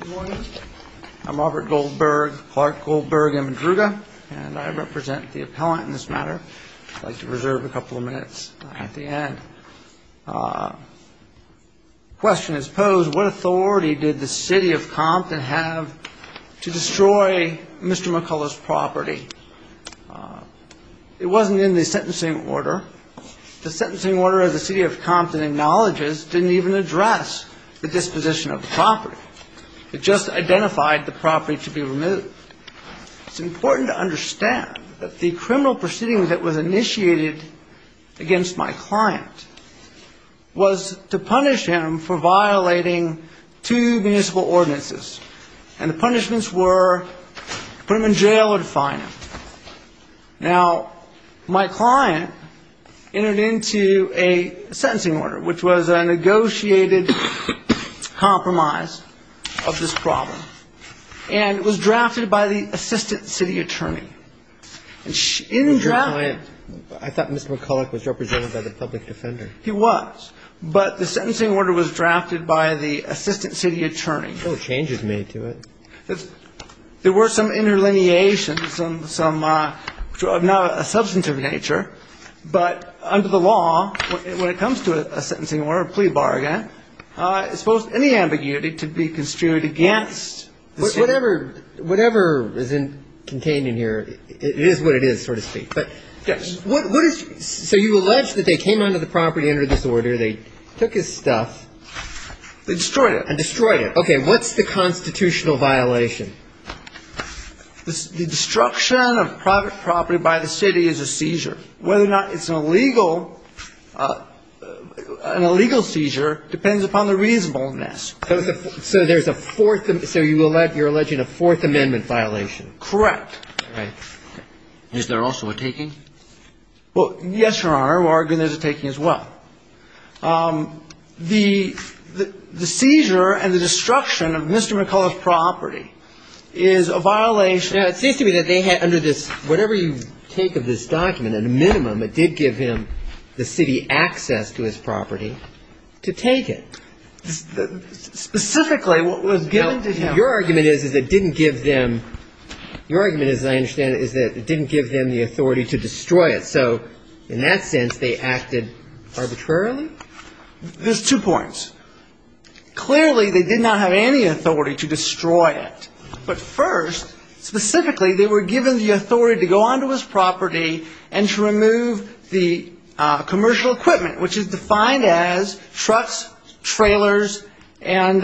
Good morning. I'm Robert Goldberg, Clark Goldberg and Madruga, and I represent the appellant in this matter. I'd like to reserve a couple of minutes at the end. The question is posed, what authority did the City of Compton have to destroy Mr. McCullough's property? It wasn't in the sentencing order. The sentencing order of the City of Compton acknowledges didn't even address the disposition of the property. It just identified the property to be removed. It's important to understand that the criminal proceeding that was initiated against my client was to punish him for violating two municipal ordinances. And the punishments were to put him in jail or to fine him. Now, my client entered into a sentencing order, which was a negotiated compromise of this problem. And it was drafted by the assistant city attorney. I thought Mr. McCullough was represented by the public defender. He was, but the sentencing order was drafted by the assistant city attorney. No changes made to it. There were some interlineations, some of a substantive nature, but under the law, when it comes to a sentencing order, a plea bargain, any ambiguity to be construed against. Whatever is contained in here, it is what it is, so to speak. Yes. So you allege that they came onto the property under this order. They took his stuff. They destroyed it. And destroyed it. Okay. What's the constitutional violation? The destruction of private property by the city is a seizure. Whether or not it's an illegal seizure depends upon the reasonableness. So there's a fourth, so you're alleging a Fourth Amendment violation. Correct. All right. Is there also a taking? Well, yes, Your Honor. We're arguing there's a taking as well. The seizure and the destruction of Mr. McCullough's property is a violation. Now, it seems to me that they had under this, whatever you take of this document, at a minimum, it did give him the city access to his property to take it. Specifically, what was given to him. Your argument is, is it didn't give them the authority to destroy it. So in that sense, they acted arbitrarily? There's two points. Clearly, they did not have any authority to destroy it. But first, specifically, they were given the authority to go onto his property and to remove the commercial equipment, which is defined as trucks, trailers, and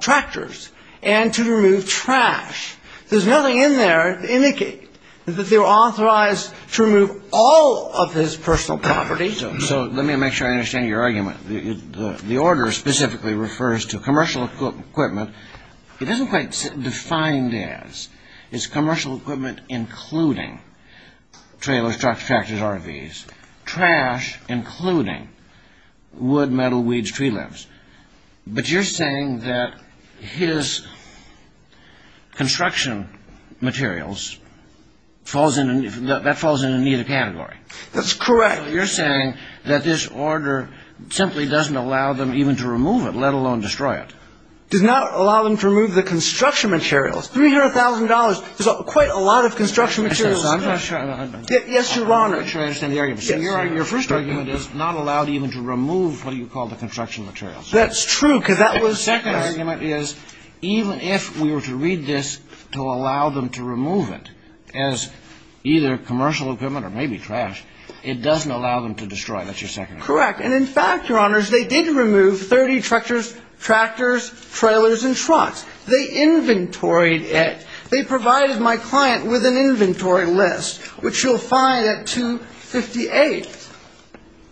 tractors. And to remove trash. There's nothing in there to indicate that they were authorized to remove all of his personal property. So let me make sure I understand your argument. The order specifically refers to commercial equipment. It isn't quite defined as. It's commercial equipment including trailers, trucks, tractors, RVs. Trash including wood, metal, weeds, tree limbs. But you're saying that his construction materials falls in, that falls in neither category. That's correct. You're saying that this order simply doesn't allow them even to remove it, let alone destroy it. Does not allow them to remove the construction materials. $300,000 is quite a lot of construction materials. Yes, Your Honor. Let me make sure I understand the argument. Your first argument is not allowed even to remove what you call the construction materials. That's true because that was. The second argument is even if we were to read this to allow them to remove it as either commercial equipment or maybe trash, it doesn't allow them to destroy it. That's your second argument. Correct. And in fact, Your Honors, they did remove 30 tractors, trailers, and trucks. They inventoried it. They provided my client with an inventory list, which you'll find at 258.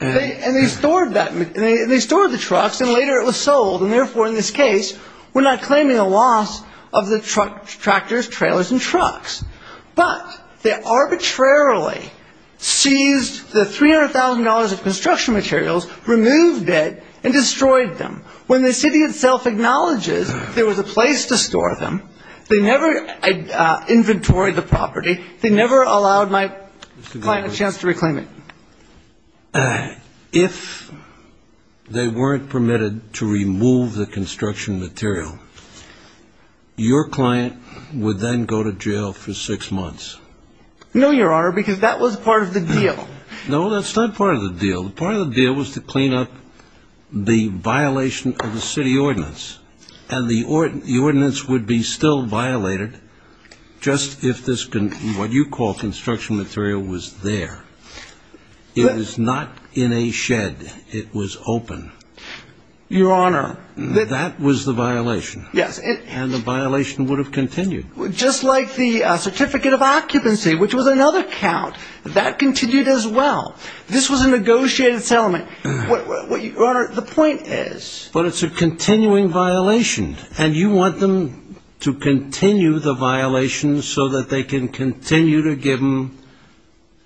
And they stored the trucks and later it was sold. And therefore, in this case, we're not claiming a loss of the tractors, trailers, and trucks. But they arbitrarily seized the $300,000 of construction materials, removed it, and destroyed them. When the city itself acknowledges there was a place to store them, they never inventoried the property, they never allowed my client a chance to reclaim it. If they weren't permitted to remove the construction material, your client would then go to jail for six months. No, Your Honor, because that was part of the deal. No, that's not part of the deal. Part of the deal was to clean up the violation of the city ordinance. And the ordinance would be still violated just if this, what you call construction material, was there. It was not in a shed. It was open. Your Honor. That was the violation. Yes. And the violation would have continued. Just like the certificate of occupancy, which was another count, that continued as well. This was a negotiated settlement. Your Honor, the point is... But it's a continuing violation. And you want them to continue the violation so that they can continue to give them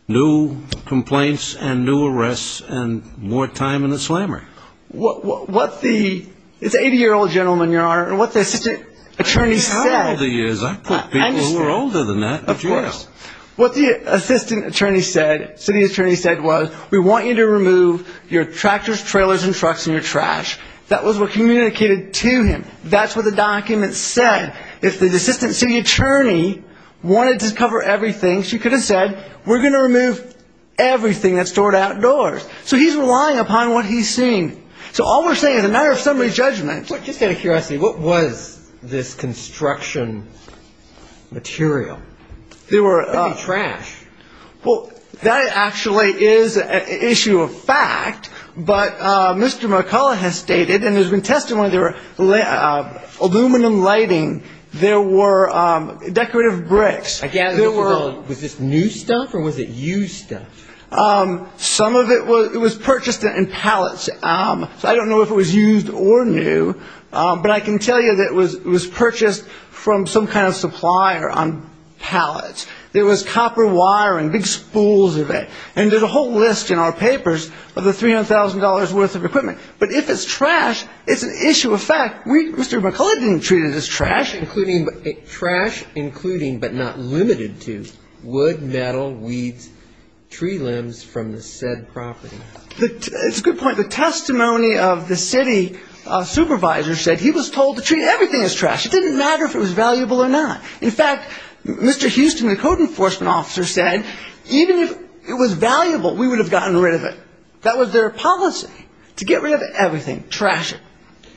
new complaints and new arrests and more time in the slammer. What the, it's an 80-year-old gentleman, Your Honor, and what the assistant attorney said... I didn't have all the years. I put people who were older than that in jail. What the assistant attorney said, city attorney said was, we want you to remove your tractors, trailers, and trucks and your trash. That was what communicated to him. That's what the document said. If the assistant city attorney wanted to cover everything, she could have said, we're going to remove everything that's stored outdoors. So he's relying upon what he's seen. So all we're saying is a matter of summary judgment. Just out of curiosity, what was this construction material? There were... It could be trash. Well, that actually is an issue of fact. But Mr. Mercola has stated, and there's been testimony, there were aluminum lighting. There were decorative bricks. Again, was this new stuff or was it used stuff? Some of it was purchased in pallets. I don't know if it was used or new, but I can tell you that it was purchased from some kind of supplier on pallets. There was copper wiring, big spools of it. And there's a whole list in our papers of the $300,000 worth of equipment. But if it's trash, it's an issue of fact. Mr. Mercola didn't treat it as trash. Trash including but not limited to wood, metal, weeds, tree limbs from the said property. It's a good point. The testimony of the city supervisor said he was told to treat everything as trash. It didn't matter if it was valuable or not. In fact, Mr. Houston, the code enforcement officer, said even if it was valuable, we would have gotten rid of it. That was their policy, to get rid of everything, trash it.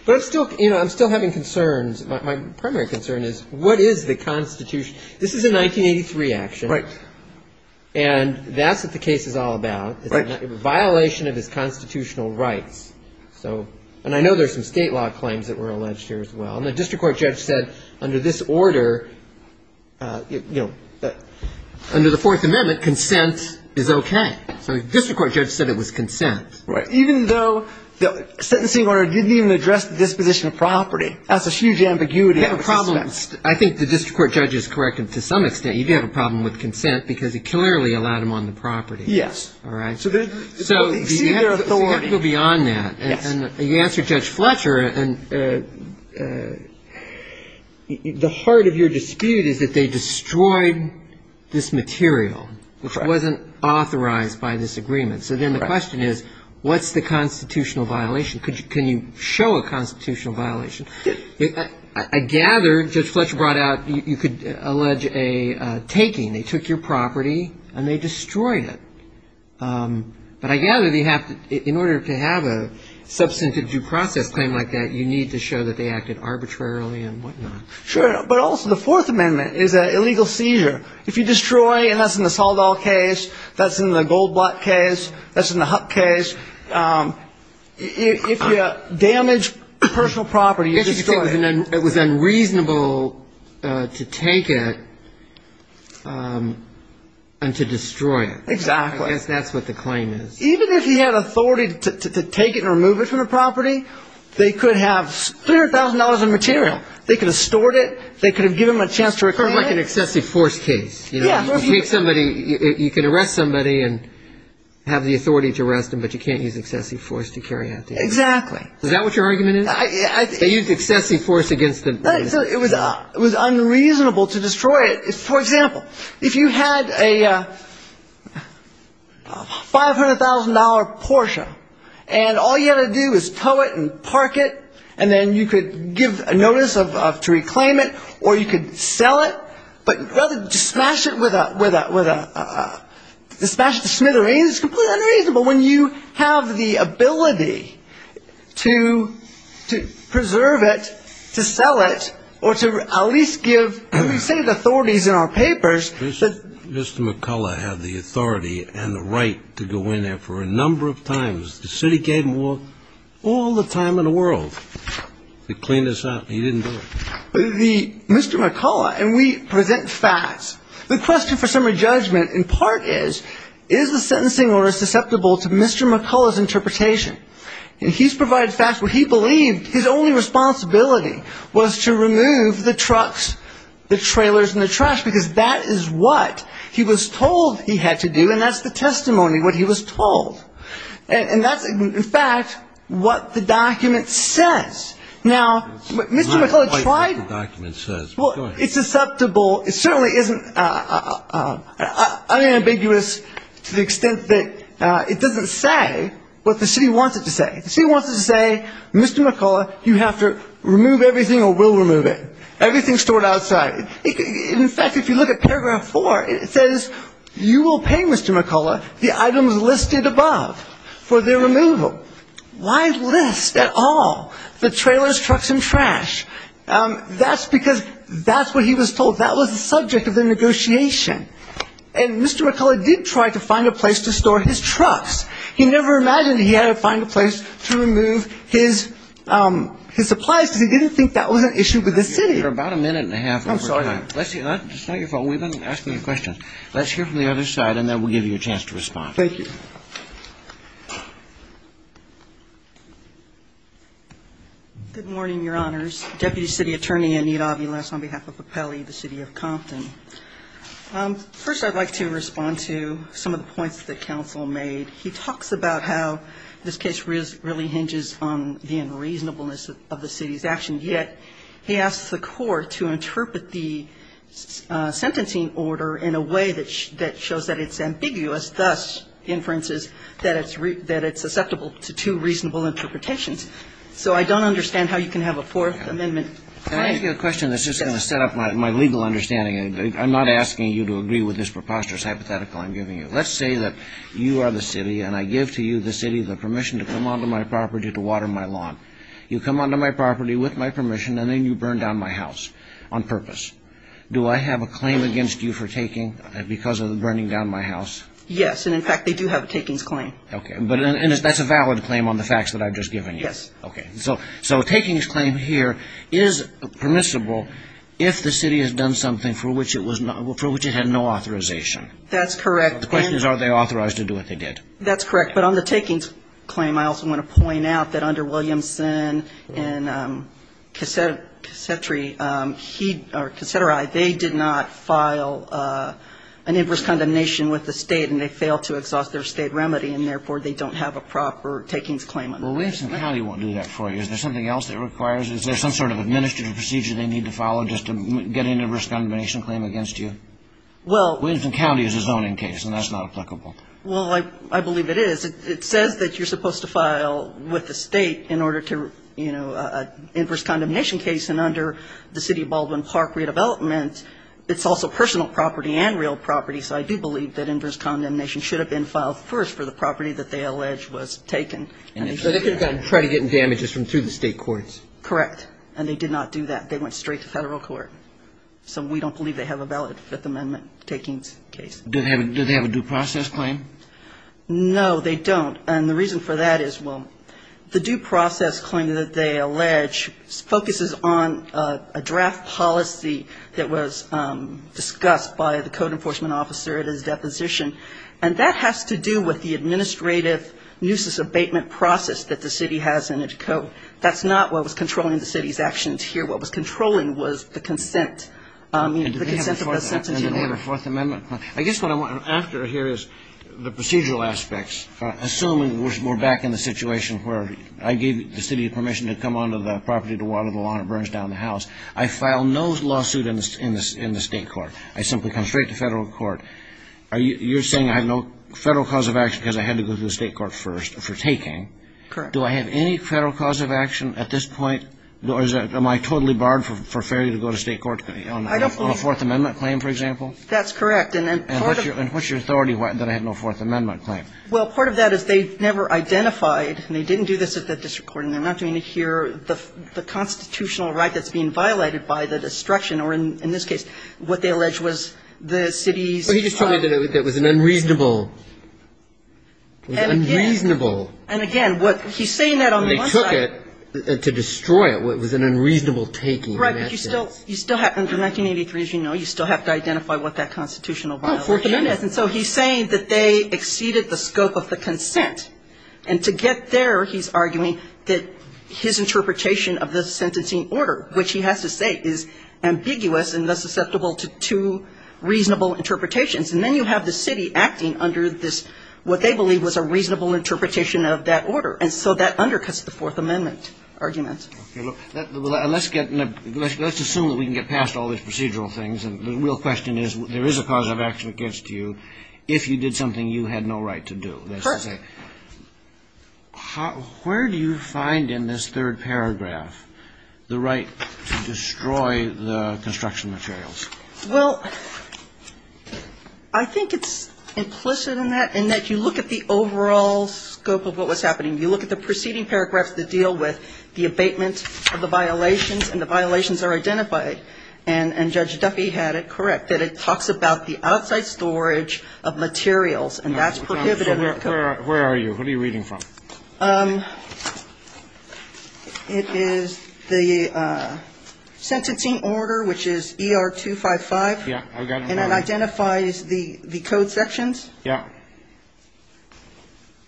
But I'm still having concerns. My primary concern is what is the Constitution? This is a 1983 action. Right. And that's what the case is all about. It's a violation of his constitutional rights. And I know there's some state law claims that were alleged here as well. And the district court judge said under this order, under the Fourth Amendment, consent is okay. So the district court judge said it was consent. Right. Even though the sentencing order didn't even address the disposition of property. That's a huge ambiguity. You have a problem. I think the district court judge is correct to some extent. You do have a problem with consent because it clearly allowed him on the property. Yes. All right. So you have to go beyond that. Yes. And you answered Judge Fletcher. And the heart of your dispute is that they destroyed this material, which wasn't authorized by this agreement. So then the question is what's the constitutional violation? Can you show a constitutional violation? I gather Judge Fletcher brought out you could allege a taking. They took your property and they destroyed it. But I gather in order to have a substantive due process claim like that, you need to show that they acted arbitrarily and whatnot. Sure. But also the Fourth Amendment is an illegal seizure. If you destroy, and that's in the Saldal case, that's in the Goldblatt case, that's in the Huck case, if you damage personal property, you destroy it. It was unreasonable to take it and to destroy it. Exactly. I guess that's what the claim is. Even if he had authority to take it and remove it from the property, they could have $300,000 in material. They could have stored it. They could have given him a chance to reclaim it. It's kind of like an excessive force case. You know, you can arrest somebody and have the authority to arrest them, but you can't use excessive force to carry out the arrest. Exactly. Is that what your argument is? They used excessive force against him. Right. So it was unreasonable to destroy it. For example, if you had a $500,000 Porsche and all you had to do was tow it and park it and then you could give notice to reclaim it or you could sell it, but rather just smash it with a smithereen, it's completely unreasonable. But when you have the ability to preserve it, to sell it, or to at least give, we say the authorities in our papers. Mr. McCullough had the authority and the right to go in there for a number of times. The city gave him all the time in the world to clean this up. He didn't do it. Mr. McCullough, and we present facts. The question for summary judgment in part is, is the sentencing order susceptible to Mr. McCullough's interpretation? And he's provided facts where he believed his only responsibility was to remove the trucks, the trailers, and the trash, because that is what he was told he had to do, and that's the testimony, what he was told. And that's, in fact, what the document says. Now, Mr. McCullough tried to go ahead. Well, it certainly isn't unambiguous to the extent that it doesn't say what the city wants it to say. The city wants it to say, Mr. McCullough, you have to remove everything or we'll remove it. Everything's stored outside. In fact, if you look at paragraph four, it says you will pay Mr. McCullough the items listed above for their removal. Why list at all the trailers, trucks, and trash? That's because that's what he was told. That was the subject of the negotiation. And Mr. McCullough did try to find a place to store his trucks. He never imagined he had to find a place to remove his supplies because he didn't think that was an issue with the city. You're about a minute and a half over time. I'm sorry. It's not your fault. We've been asking you questions. Let's hear from the other side, and then we'll give you a chance to respond. Thank you. Good morning, Your Honors. Deputy City Attorney Anita Aviles on behalf of Apelli, the city of Compton. First, I'd like to respond to some of the points that counsel made. He talks about how this case really hinges on the unreasonableness of the city's actions, yet he asks the court to interpret the sentencing order in a way that shows that it's ambiguous, thus, inferences, that it's susceptible to two reasonable interpretations. So I don't understand how you can have a Fourth Amendment. Can I ask you a question that's just going to set up my legal understanding? I'm not asking you to agree with this preposterous hypothetical I'm giving you. Let's say that you are the city, and I give to you, the city, the permission to come onto my property to water my lawn. You come onto my property with my permission, and then you burn down my house on purpose. Do I have a claim against you for taking because of burning down my house? Yes, and in fact, they do have a takings claim. Okay, and that's a valid claim on the facts that I've just given you? Yes. Okay, so a takings claim here is permissible if the city has done something for which it had no authorization. That's correct. The question is, are they authorized to do what they did? That's correct. But on the takings claim, I also want to point out that under Williamson and Cassetri, they did not file an inverse condemnation with the State, and they failed to exhaust their State remedy, and therefore, they don't have a proper takings claim. Well, Williamson County won't do that for you. Is there something else that it requires? Is there some sort of administrative procedure they need to follow just to get an inverse condemnation claim against you? Well. Williamson County is a zoning case, and that's not applicable. Well, I believe it is. It says that you're supposed to file with the State in order to, you know, inverse condemnation case, and under the City of Baldwin Park redevelopment, it's also personal property and real property. So I do believe that inverse condemnation should have been filed first for the property that they allege was taken. So they could have gone and tried to get damages from through the State courts. Correct. And they did not do that. They went straight to Federal court. So we don't believe they have a valid Fifth Amendment takings case. Do they have a due process claim? No, they don't. And the reason for that is, well, the due process claim that they allege focuses on a draft policy that was discussed by the code enforcement officer at his deposition, and that has to do with the administrative nuisance abatement process that the City has in its code. That's not what was controlling the City's actions here. What was controlling was the consent. I mean, the consent of the sentence. I guess what I'm after here is the procedural aspects. Assuming we're back in the situation where I gave the City permission to come onto the property, to water the lawn that burns down the house, I file no lawsuit in the State court. I simply come straight to Federal court. You're saying I have no Federal cause of action because I had to go to the State court first for taking. Correct. Do I have any Federal cause of action at this point, or am I totally barred for failure to go to State court on a Fourth Amendment claim, for example? That's correct. And what's your authority that I had no Fourth Amendment claim? Well, part of that is they never identified, and they didn't do this at the district court, and they're not doing it here, the constitutional right that's being violated by the destruction, or in this case, what they allege was the City's. Well, he just told me that it was an unreasonable, unreasonable. And again, what he's saying that on the one side. It was an unreasonable taking in that sense. Right. But you still have, under 1983, as you know, you still have to identify what that constitutional violation is. Oh, Fourth Amendment. And so he's saying that they exceeded the scope of the consent. And to get there, he's arguing that his interpretation of the sentencing order, which he has to say is ambiguous and thus susceptible to reasonable interpretations. And then you have the City acting under this, what they believe was a reasonable interpretation of that order. And so that undercuts the Fourth Amendment argument. Let's assume that we can get past all these procedural things. And the real question is, there is a cause of action against you if you did something you had no right to do. Correct. Where do you find in this third paragraph the right to destroy the construction materials? Well, I think it's implicit in that, in that you look at the overall scope of what was happening. You look at the preceding paragraphs that deal with the abatement of the violations and the violations are identified. And Judge Duffy had it correct, that it talks about the outside storage of materials and that's prohibitive. Where are you? Who are you reading from? It is the sentencing order, which is ER255. Yeah. And it identifies the code sections. Yeah.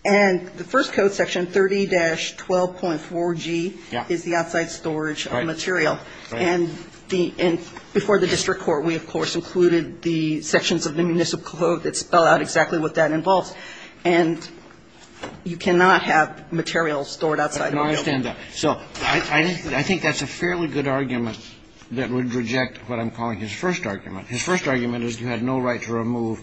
And the first code section, 30-12.4G, is the outside storage of material. Right. Right. And before the district court, we, of course, included the sections of the municipal code that spell out exactly what that involves. And you cannot have materials stored outside the building. I understand that. So I think that's a fairly good argument that would reject what I'm calling his first argument. His first argument is you had no right to remove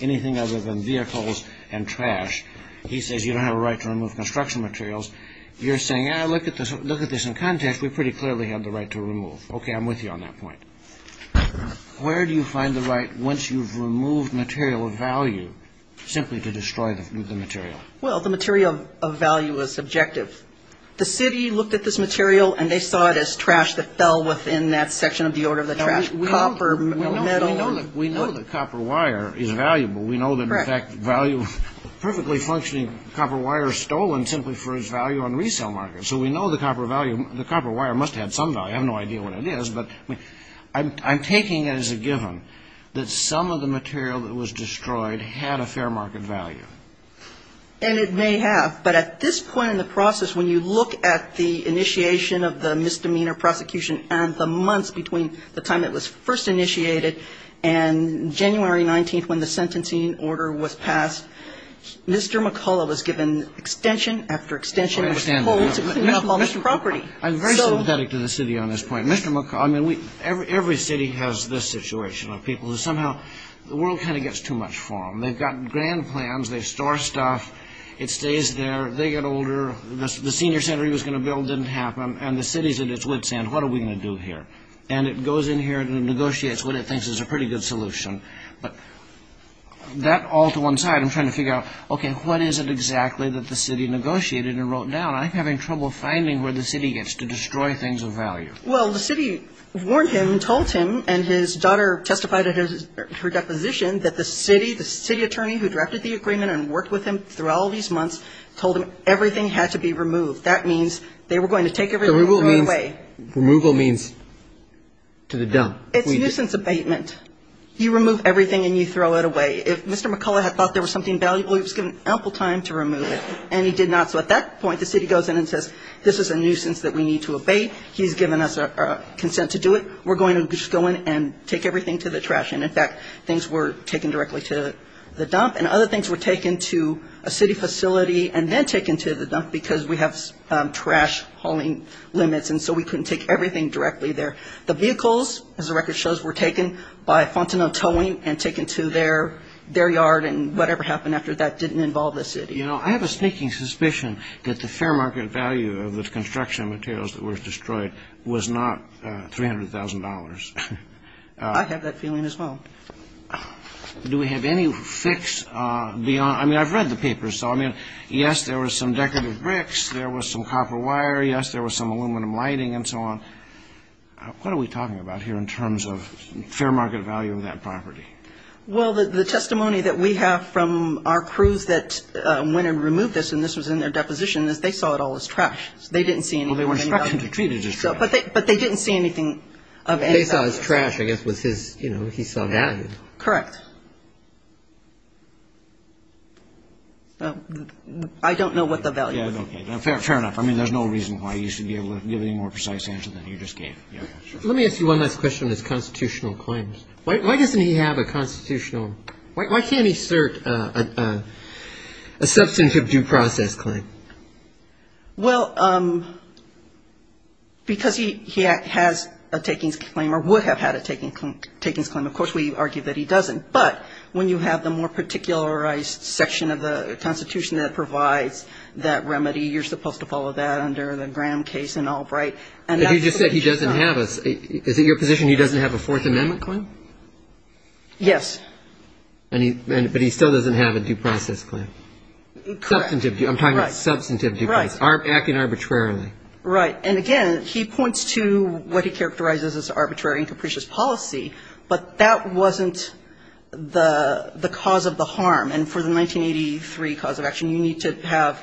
anything other than vehicles and trash. He says you don't have a right to remove construction materials. You're saying, look at this in context. We pretty clearly have the right to remove. Okay, I'm with you on that point. Where do you find the right, once you've removed material of value, simply to destroy the material? Well, the material of value is subjective. The city looked at this material and they saw it as trash that fell within that section of the order of the trash. It's not copper, metal. We know that copper wire is valuable. We know that, in fact, value of perfectly functioning copper wire is stolen simply for its value on resale markets. So we know the copper wire must have had some value. I have no idea what it is. But I'm taking it as a given that some of the material that was destroyed had a fair market value. And it may have. But at this point in the process, when you look at the initiation of the misdemeanor prosecution and the months between the time it was first initiated and January 19th when the sentencing order was passed, Mr. McCullough was given extension after extension of his hold to clean up all this property. I'm very sympathetic to the city on this point. Mr. McCullough, I mean, every city has this situation of people who somehow the world kind of gets too much for them. They've got grand plans. They store stuff. It stays there. They get older. The senior center he was going to build didn't happen. And the city's at its wit's end. What are we going to do here? And it goes in here and negotiates what it thinks is a pretty good solution. But that all to one side, I'm trying to figure out, okay, what is it exactly that the city negotiated and wrote down? I'm having trouble finding where the city gets to destroy things of value. Well, the city warned him, told him, and his daughter testified at her deposition that the city, the city attorney who drafted the agreement and worked with him through all these months, told him everything had to be removed. That means they were going to take everything and throw it away. Removal means to the dump. It's nuisance abatement. You remove everything and you throw it away. If Mr. McCullough had thought there was something valuable, he was given ample time to remove it. And he did not. So at that point, the city goes in and says, this is a nuisance that we need to abate. He's given us consent to do it. We're going to just go in and take everything to the trash. And, in fact, things were taken directly to the dump. And other things were taken to a city facility and then taken to the dump because we have trash hauling limits. And so we couldn't take everything directly there. The vehicles, as the record shows, were taken by Fontenot Towing and taken to their yard. And whatever happened after that didn't involve the city. You know, I have a sneaking suspicion that the fair market value of the construction materials that were destroyed was not $300,000. I have that feeling as well. Do we have any fix beyond? I mean, I've read the papers. So, I mean, yes, there were some decorative bricks. There was some copper wire. Yes, there was some aluminum lighting and so on. What are we talking about here in terms of fair market value of that property? Well, the testimony that we have from our crews that went and removed this, and this was in their deposition, is they saw it all as trash. They didn't see anything of any value. Well, they were instructed to treat it as trash. But they didn't see anything of any value. They saw it as trash, I guess, was his, you know, he saw value. Correct. I don't know what the value was. Okay. Fair enough. I mean, there's no reason why you should be able to give any more precise answer than you just gave. Let me ask you one last question on his constitutional claims. Why doesn't he have a constitutional, why can't he assert a substantive due process claim? Well, because he has a takings claim or would have had a takings claim. Of course, we argue that he doesn't. But when you have the more particularized section of the Constitution that provides that remedy, you're supposed to follow that under the Graham case and Albright. But he just said he doesn't have a, is it your position he doesn't have a Fourth Amendment claim? Yes. But he still doesn't have a due process claim. Correct. Substantive due, I'm talking about substantive due process. Right. Acting arbitrarily. Right. And, again, he points to what he characterizes as arbitrary and capricious policy. But that wasn't the cause of the harm. And for the 1983 cause of action, you need to have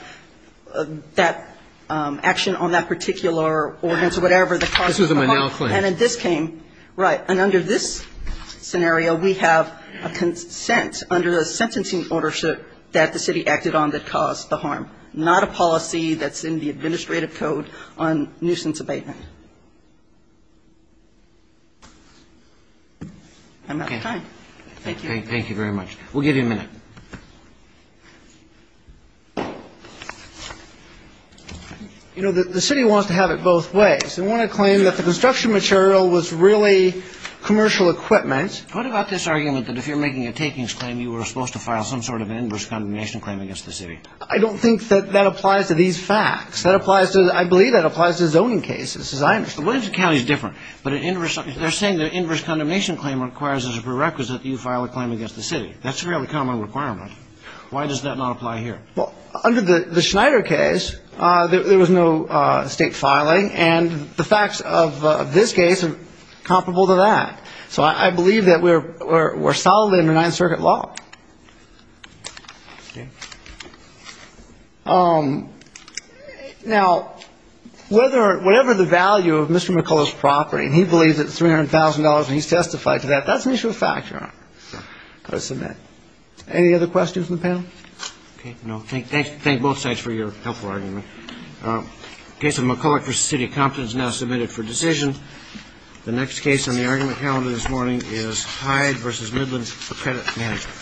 that action on that particular ordinance or whatever. This was a Menal claim. And then this came. Right. And under this scenario, we have a consent under the sentencing order that the city acted on that caused the harm, not a policy that's in the administrative code on nuisance abatement. I'm out of time. Thank you. Thank you very much. We'll give you a minute. You know, the city wants to have it both ways. They want to claim that the construction material was really commercial equipment. What about this argument that if you're making a takings claim, you were supposed to file some sort of inverse condemnation claim against the city? I don't think that that applies to these facts. That applies to, I believe that applies to zoning cases. The Williams County is different. But they're saying the inverse condemnation claim requires as a prerequisite that you file a claim against the city. That's a fairly common requirement. Why does that not apply here? Well, under the Schneider case, there was no state filing. And the facts of this case are comparable to that. So I believe that we're solidly under Ninth Circuit law. Now, whatever the value of Mr. McCullough's property, and he believes it's $300,000 and he's testified to that, that's an issue of factor. I'll submit. Any other questions from the panel? No. Thank both sides for your helpful argument. Case of McCullough v. City of Compton is now submitted for decision. The next case on the argument calendar this morning is Hyde v. Midlands for credit management.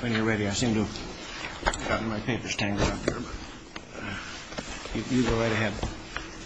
When you're ready, I seem to have gotten my papers tangled up here. You go right ahead.